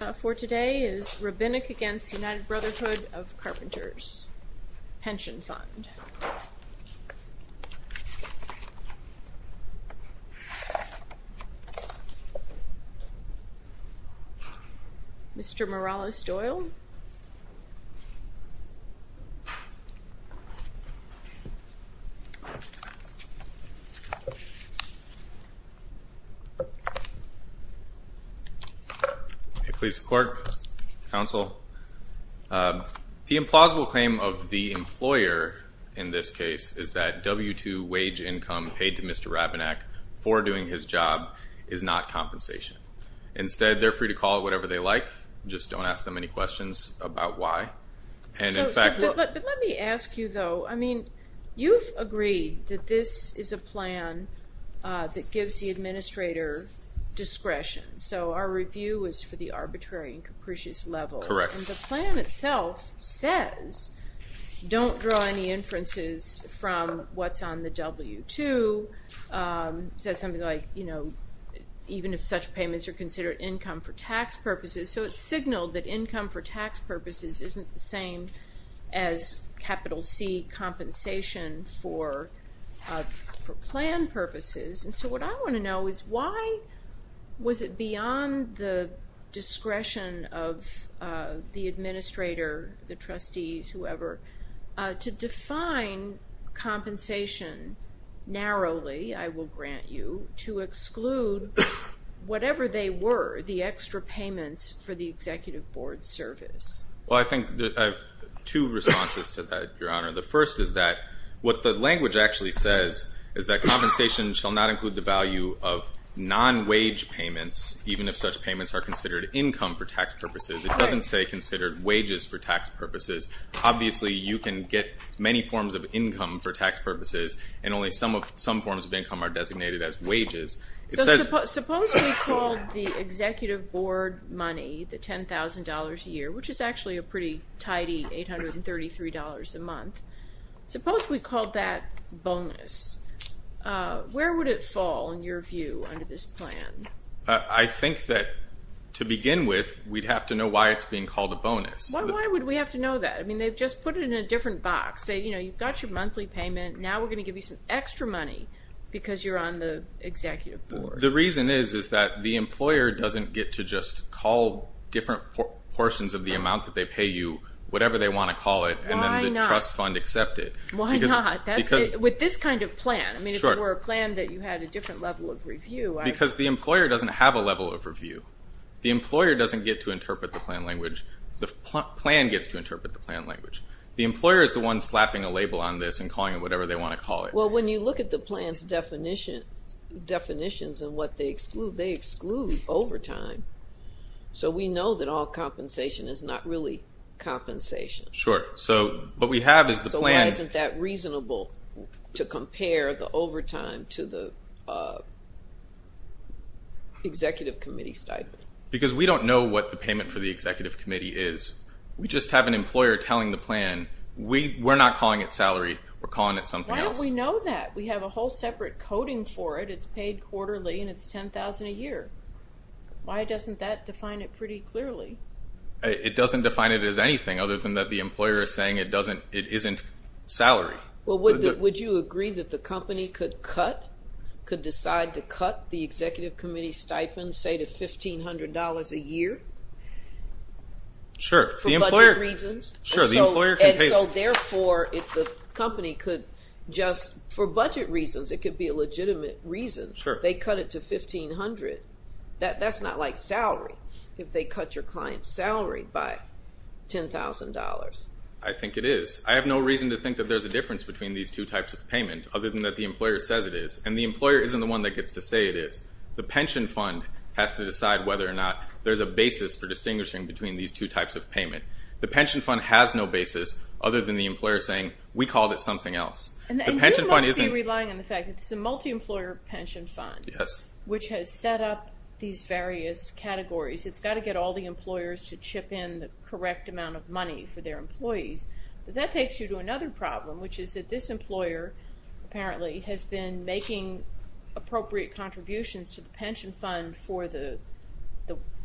Rabinak v. United Brotherhood of Carpenters Mr. Morales-Doyle The implausible claim of the employer in this case is that W-2 wage income paid to Mr. Rabinak for doing his job is not compensation. Instead, they're free to call it whatever they like. Just don't ask them any questions about why. Let me ask you though, I mean, you've agreed that this is a plan that gives the administrator discretion, so our review is for the arbitrary and capricious level. Correct. The plan itself says don't draw any inferences from what's on the W-2. It says something like, you know, even if such payments are considered income for tax purposes, so it's signaled that income for tax purposes isn't the same as capital C compensation for plan purposes. And so what I want to know is why was it beyond the discretion of the administrator, the trustees, whoever, to define compensation narrowly, I will grant you, to exclude whatever they were, the extra payments for the executive board service? Well, I think I have two responses to that, Your Honor. The first is that what the language actually says is that compensation shall not include the value of non-wage payments, even if such payments are considered income for tax purposes. It doesn't say considered wages for tax purposes. Obviously, you can get many forms of income for tax purposes, and only some forms of income are designated as wages. Suppose we called the executive board money, the $10,000 a year, which is actually a pretty tidy $833 a month. Suppose we called that bonus. Where would it fall, in your view, under this plan? I think that to begin with, we'd have to know why it's being called a bonus. Why would we have to know that? I mean, they've just put it in a different box. They, you know, you've got your monthly payment. Now we're going to give you some extra money because you're on the executive board. The reason is, is that the employer doesn't get to just call different portions of the amount that they pay you, whatever they want to call it, and then the trust fund accept it. Why not? With this kind of plan? I mean, if it were a plan that you had a different level of review. Because the employer doesn't have a level of review. The employer doesn't get to interpret the plan language. The plan gets to interpret the plan language. The employer is the one slapping a label on this and calling it whatever they want to call it. Well, when you look at the plan's definitions and what they exclude, they exclude overtime. So we know that all compensation is not really compensation. Sure. So what we have is the plan. So why isn't that reasonable to compare the overtime to the executive committee stipend? Because we don't know what the payment for the executive committee is. We just have an employer telling the plan, we're not calling it salary. We're calling it something else. Why don't we know that? We have a whole separate coding for it. It's paid quarterly and it's $10,000 a year. Why doesn't that define it pretty clearly? It doesn't define it as anything other than that the employer is saying it isn't salary. Well, would you agree that the company could cut, could decide to cut the executive committee stipend, say to $1,500 a year? Sure. For budget reasons? Sure, the employer can pay. And so therefore, if the company could just, for budget reasons, it could be a legitimate reason. Sure. They cut it to $1,500. That's not like salary, if they cut your client's salary by $10,000. I think it is. I have no reason to think that there's a difference between these two types of payment, other than that the employer says it is. And the employer isn't the one that gets to say it is. The pension fund has to decide whether or not there's a basis for distinguishing between these two types of payment. The pension fund has no basis, other than the employer saying, we called it something else. And you must be relying on the fact that it's a multi-employer pension fund. Yes. Which has set up these various categories. It's got to get all the employers to chip in the correct amount of money for their employees. But that takes you to another problem, which is that this employer, apparently, has been making appropriate contributions to the pension fund for the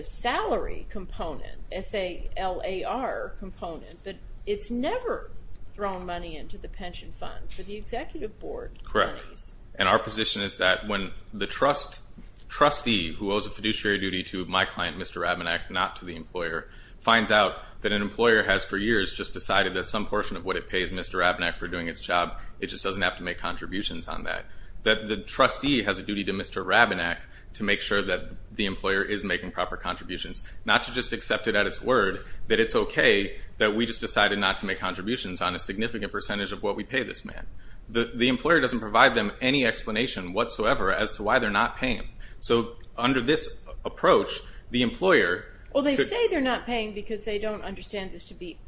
salary component, S-A-L-A-R component. But it's never thrown money into the pension fund for the executive board. Correct. And our position is that when the trustee who owes a fiduciary duty to my client, Mr. Rabinack, not to the employer, finds out that an employer has for years just decided that some portion of what it pays Mr. Rabinack for doing its job, it just doesn't have to make contributions on that. That the trustee has a duty to Mr. Rabinack to make sure that the employer is making proper contributions. Not to just accept it at its word that it's okay that we just decided not to make contributions on a significant percentage of what we pay this man. The employer doesn't provide them any explanation whatsoever as to why they're not paying. So under this approach, the employer... Well, they say they're not paying because they don't understand this to be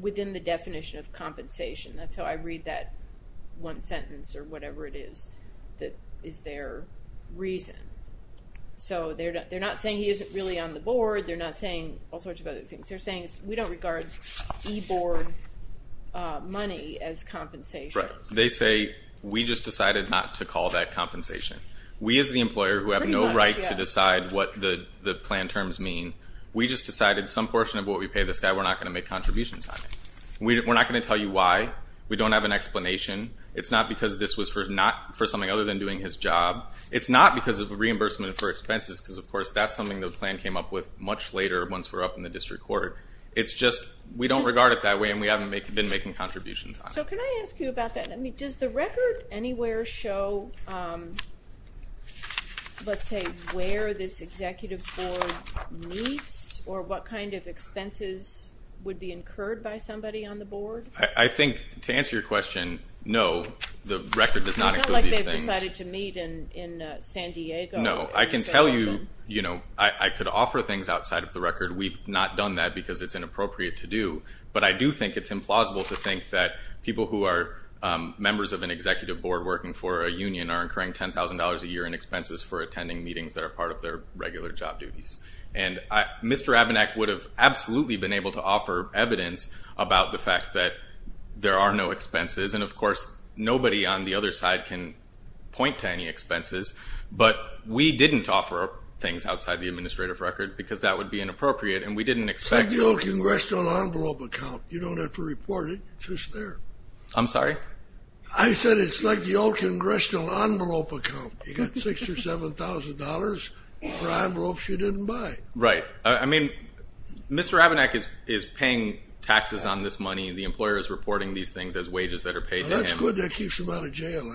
within the definition of compensation. That's how I read that one sentence or whatever it is that is their reason. So they're not saying he isn't really on the board. They're not saying all sorts of other things. They're saying we don't regard e-board money as compensation. Right. They say we just decided not to call that compensation. We as the employer who have no right to decide what the plan terms mean, we just decided some portion of what we pay this guy, we're not going to make contributions on it. We're not going to tell you why. We don't have an explanation. It's not because this was for something other than doing his job. It's not because of reimbursement for expenses because, of course, that's something the plan came up with much later once we're up in the district court. It's just we don't regard it that way and we haven't been making contributions on it. So can I ask you about that? I mean, does the record anywhere show, let's say, where this executive board meets or what kind of expenses would be incurred by somebody on the board? I think, to answer your question, no, the record does not include these things. You decided to meet in San Diego? No. I can tell you I could offer things outside of the record. We've not done that because it's inappropriate to do. But I do think it's implausible to think that people who are members of an executive board working for a union are incurring $10,000 a year in expenses for attending meetings that are part of their regular job duties. And Mr. Abenak would have absolutely been able to offer evidence about the fact that there are no expenses. And, of course, nobody on the other side can point to any expenses. But we didn't offer things outside the administrative record because that would be inappropriate and we didn't expect to. It's like the old congressional envelope account. You don't have to report it. It's just there. I'm sorry? I said it's like the old congressional envelope account. You got $6,000 or $7,000 for envelopes you didn't buy. Right. I mean, Mr. Abenak is paying taxes on this money. The employer is reporting these things as wages that are paid to him. That's good. That keeps him out of jail.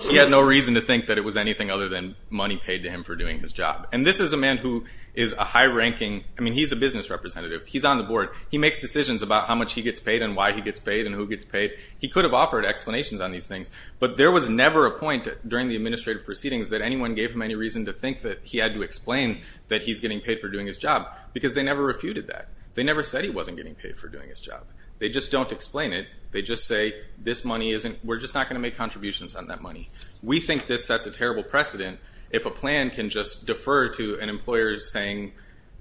He had no reason to think that it was anything other than money paid to him for doing his job. And this is a man who is a high-ranking – I mean, he's a business representative. He's on the board. He makes decisions about how much he gets paid and why he gets paid and who gets paid. He could have offered explanations on these things. But there was never a point during the administrative proceedings that anyone gave him any reason to think that he had to explain that he's getting paid for doing his job because they never refuted that. They never said he wasn't getting paid for doing his job. They just don't explain it. They just say this money isn't – we're just not going to make contributions on that money. We think this sets a terrible precedent if a plan can just defer to an employer saying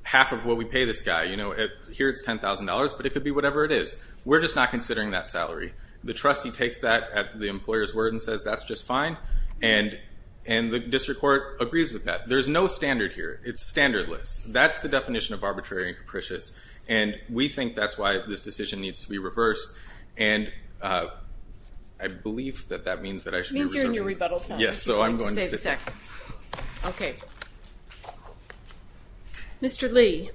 half of what we pay this guy. You know, here it's $10,000, but it could be whatever it is. We're just not considering that salary. The trustee takes that at the employer's word and says that's just fine. And the district court agrees with that. There's no standard here. It's standardless. That's the definition of arbitrary and capricious. And we think that's why this decision needs to be reversed. And I believe that that means that I should be reserving. Meet you in your rebuttal time. Yes, so I'm going to sit down. I need to save a sec. Okay. Mr. Lee.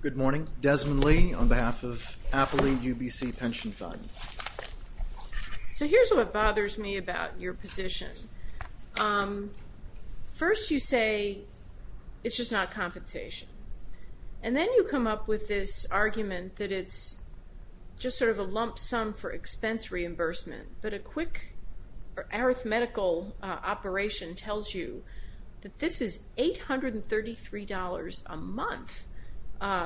Good morning. I'm Desmond Lee on behalf of Appley UBC Pension Fund. So here's what bothers me about your position. First you say it's just not compensation. And then you come up with this argument that it's just sort of a lump sum for expense reimbursement. But a quick arithmetical operation tells you that this is $833 a month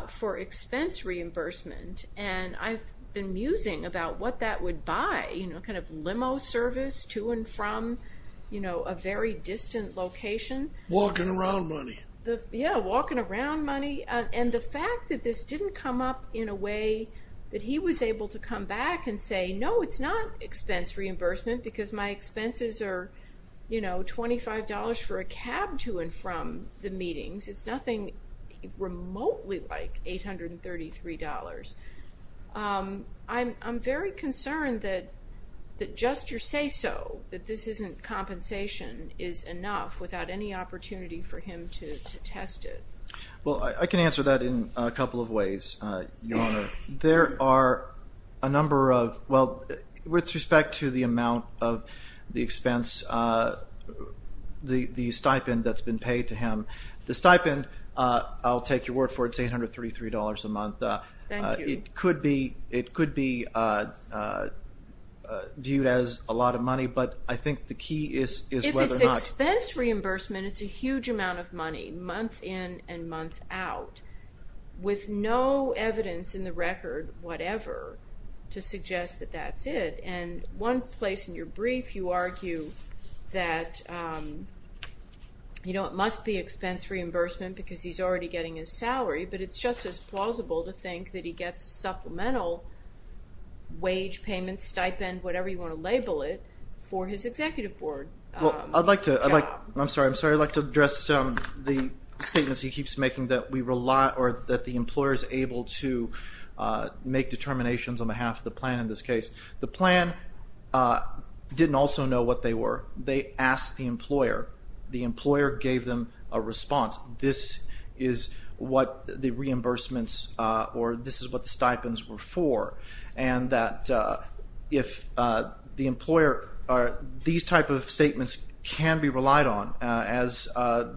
for expense reimbursement. And I've been musing about what that would buy, you know, kind of limo service to and from, you know, a very distant location. Walking around money. Yeah, walking around money. And the fact that this didn't come up in a way that he was able to come back and say, no, it's not expense reimbursement because my expenses are, you know, $25 for a cab to and from the meetings. It's nothing remotely like $833. I'm very concerned that just your say so, that this isn't compensation, is enough without any opportunity for him to test it. Well, I can answer that in a couple of ways, Your Honor. There are a number of, well, with respect to the amount of the expense, the stipend that's been paid to him. The stipend, I'll take your word for it, is $833 a month. Thank you. It could be viewed as a lot of money, but I think the key is whether or not. Expense reimbursement is a huge amount of money, month in and month out, with no evidence in the record, whatever, to suggest that that's it. And one place in your brief you argue that, you know, it must be expense reimbursement because he's already getting his salary, but it's just as plausible to think that he gets supplemental wage payments, stipend, whatever you want to label it, for his executive board. Well, I'd like to, I'm sorry, I'd like to address the statements he keeps making that we rely, or that the employer is able to make determinations on behalf of the plan in this case. The plan didn't also know what they were. They asked the employer. The employer gave them a response. This is what the reimbursements or this is what the stipends were for. And that if the employer, these type of statements can be relied on, as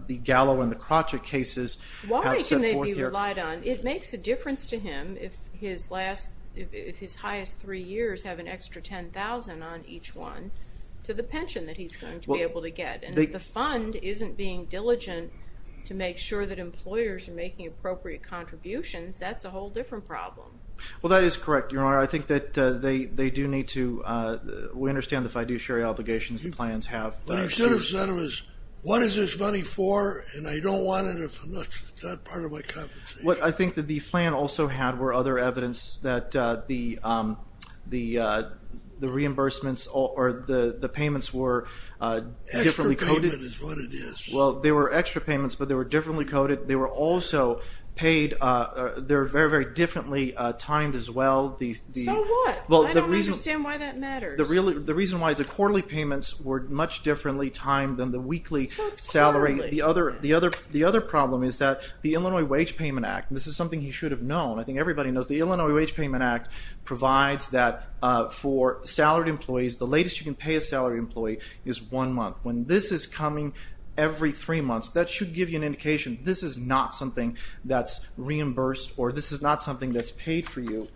the Gallo and the Crotchet cases have set forth here. Why can they be relied on? It makes a difference to him if his last, if his highest three years have an extra $10,000 on each one, to the pension that he's going to be able to get. And if the fund isn't being diligent to make sure that employers are making appropriate contributions, that's a whole different problem. Well, that is correct, Your Honor. I think that they do need to, we understand the fiduciary obligations the plans have. What I should have said was, what is this money for? And I don't want it if it's not part of my compensation. What I think that the plan also had were other evidence that the reimbursements or the payments were differently coded. Extra payment is what it is. Well, they were extra payments, but they were differently coded. They were also paid, they were very, very differently timed as well. So what? I don't understand why that matters. The reason why is the quarterly payments were much differently timed than the weekly salary. So it's quarterly. The other problem is that the Illinois Wage Payment Act, and this is something he should have known, I think everybody knows the Illinois Wage Payment Act provides that for salaried employees, the latest you can pay a salaried employee is one month. When this is coming every three months, that should give you an indication this is not something that's reimbursed or this is not something that's paid for you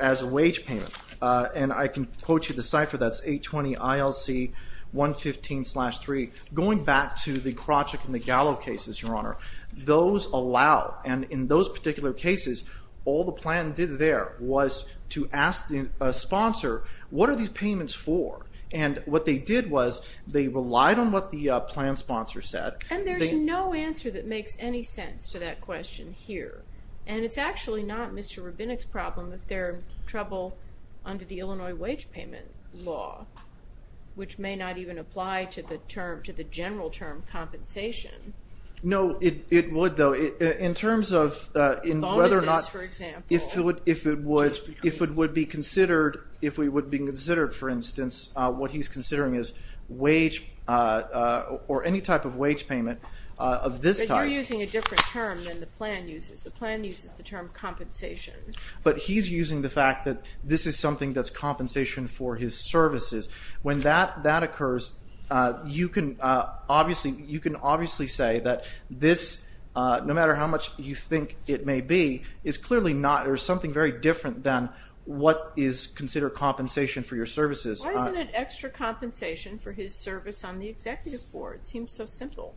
as a wage payment. And I can quote you the cipher, that's 820 ILC 115-3. Going back to the Krawchuk and the Gallo cases, Your Honor, those allow, and in those particular cases, all the plan did there was to ask the sponsor, what are these payments for? And what they did was they relied on what the plan sponsor said. And there's no answer that makes any sense to that question here. And it's actually not Mr. Rubinick's problem if they're in trouble under the Illinois wage payment law, which may not even apply to the general term compensation. No, it would, though. In terms of whether or not, if it would be considered, for instance, what he's considering is wage or any type of wage payment of this type. But you're using a different term than the plan uses. The plan uses the term compensation. But he's using the fact that this is something that's compensation for his services. When that occurs, you can obviously say that this, no matter how much you think it may be, is clearly not or something very different than what is considered compensation for your services. Why isn't it extra compensation for his service on the executive board? It seems so simple.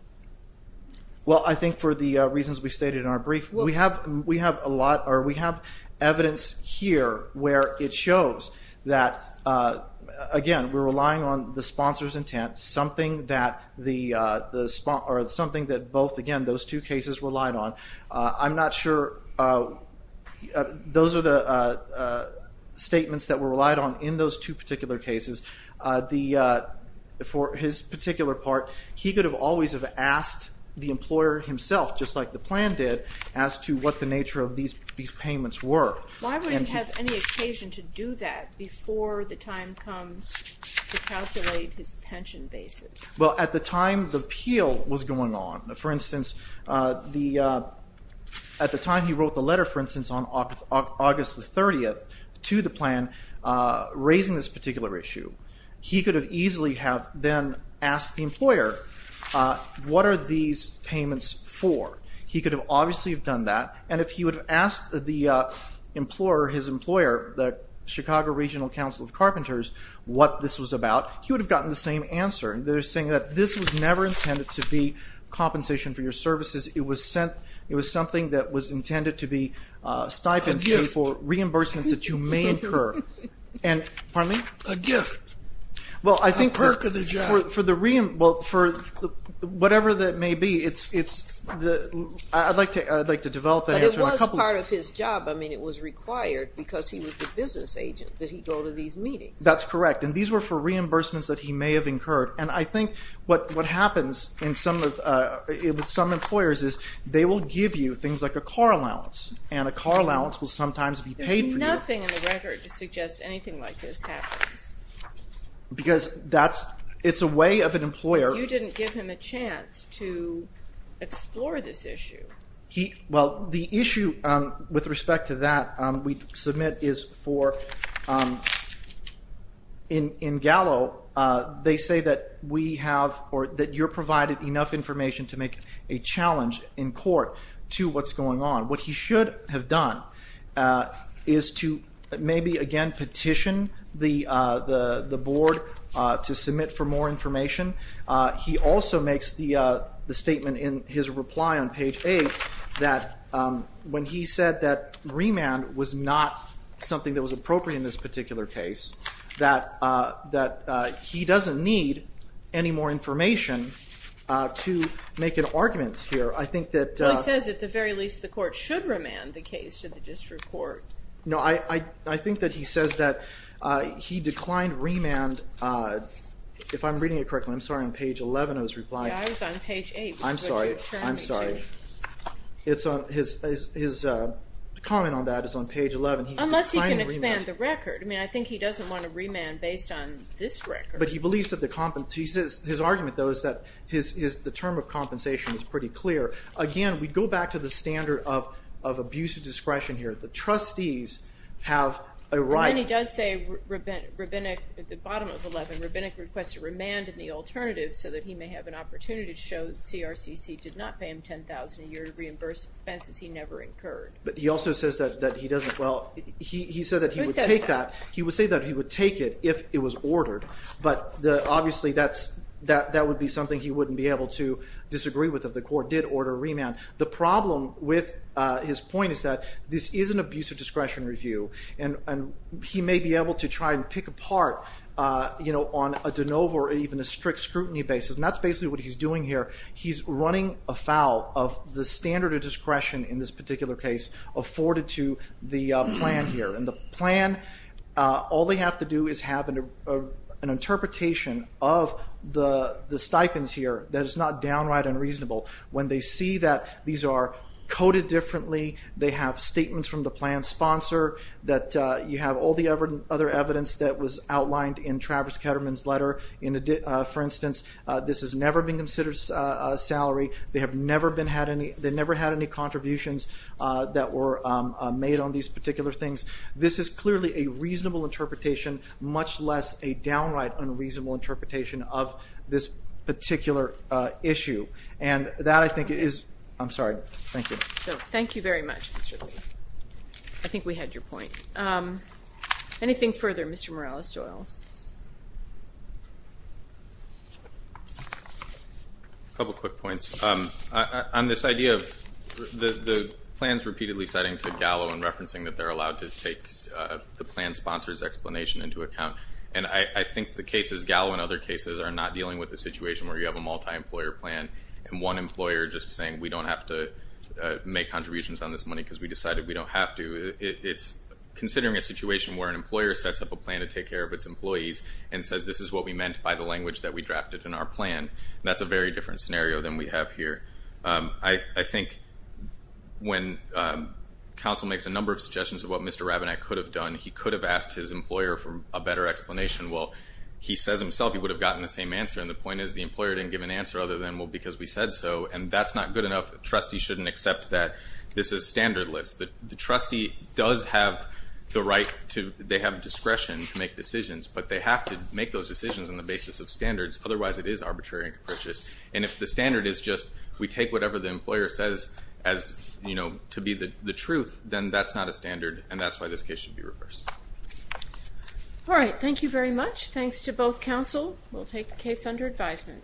Well, I think for the reasons we stated in our brief, we have evidence here where it shows that, again, we're relying on the sponsor's intent, something that both, again, those two cases relied on. I'm not sure those are the statements that were relied on in those two particular cases. For his particular part, he could have always have asked the employer himself, just like the plan did, as to what the nature of these payments were. Why would he have any occasion to do that before the time comes to calculate his pension basis? Well, at the time the appeal was going on, for instance, at the time he wrote the letter, for instance, on August the 30th to the plan raising this particular issue, he could have easily have then asked the employer, what are these payments for? He could have obviously have done that, and if he would have asked the employer, his employer, the Chicago Regional Council of Carpenters, what this was about, he would have gotten the same answer. They're saying that this was never intended to be compensation for your services. It was something that was intended to be stipends for reimbursements that you may incur. Pardon me? A gift, a perk of the job. Well, for whatever that may be, I'd like to develop that answer. But it was part of his job. I mean, it was required because he was the business agent that he'd go to these meetings. That's correct. And these were for reimbursements that he may have incurred. And I think what happens with some employers is they will give you things like a car allowance, and a car allowance will sometimes be paid for you. There's nothing in the record to suggest anything like this happens. Because it's a way of an employer. You didn't give him a chance to explore this issue. Well, the issue with respect to that we submit is for in Gallo, they say that we have or that you're provided enough information to make a challenge in court to what's going on. What he should have done is to maybe, again, petition the board to submit for more information. He also makes the statement in his reply on page 8 that when he said that remand was not something that was appropriate in this particular case, that he doesn't need any more information to make an argument here. I think that he says at the very least the court should remand the case to the district court. No, I think that he says that he declined remand. If I'm reading it correctly, I'm sorry, on page 11 I was replying. Yeah, I was on page 8. I'm sorry. I'm sorry. His comment on that is on page 11. Unless he can expand the record. I mean, I think he doesn't want to remand based on this record. But his argument, though, is that the term of compensation is pretty clear. Again, we go back to the standard of abuse of discretion here. The trustees have a right. And then he does say, at the bottom of 11, Rabinick requests a remand in the alternative so that he may have an opportunity to show that CRCC did not pay him $10,000 a year to reimburse expenses he never incurred. But he also says that he doesn't. Well, he said that he would take that. He would say that he would take it if it was ordered. But obviously that would be something he wouldn't be able to disagree with if the court did order a remand. The problem with his point is that this is an abuse of discretion review. And he may be able to try and pick apart on a de novo or even a strict scrutiny basis. And that's basically what he's doing here. He's running afoul of the standard of discretion in this particular case afforded to the plan here. And the plan, all they have to do is have an interpretation of the stipends here that is not downright unreasonable. When they see that these are coded differently, they have statements from the plan sponsor, that you have all the other evidence that was outlined in Travis Ketterman's letter. For instance, this has never been considered a salary. They have never had any contributions that were made on these particular things. This is clearly a reasonable interpretation, much less a downright unreasonable interpretation of this particular issue. And that, I think, is ‑‑ I'm sorry. Thank you. Thank you very much, Mr. Lee. I think we had your point. Anything further, Mr. Morales-Joyle? A couple quick points. On this idea of the plans repeatedly citing to Gallo and referencing that they're allowed to take the plan sponsor's explanation into account. And I think the cases, Gallo and other cases, are not dealing with a situation where you have a multi‑employer plan and one employer just saying we don't have to make contributions on this money because we decided we don't have to. It's considering a situation where an employer sets up a plan to take care of its employees and says this is what we meant by the language that we drafted in our plan. That's a very different scenario than we have here. I think when counsel makes a number of suggestions of what Mr. Rabinette could have done, he could have asked his employer for a better explanation. Well, he says himself he would have gotten the same answer, and the point is the employer didn't give an answer other than, well, because we said so. And that's not good enough. Trustees shouldn't accept that this is standardless. The trustee does have the right to ‑‑ they have discretion to make decisions, but they have to make those decisions on the basis of standards. Otherwise, it is arbitrary and capricious. And if the standard is just we take whatever the employer says as, you know, to be the truth, then that's not a standard, and that's why this case should be reversed. All right. Thank you very much. Thanks to both counsel. We'll take the case under advisement.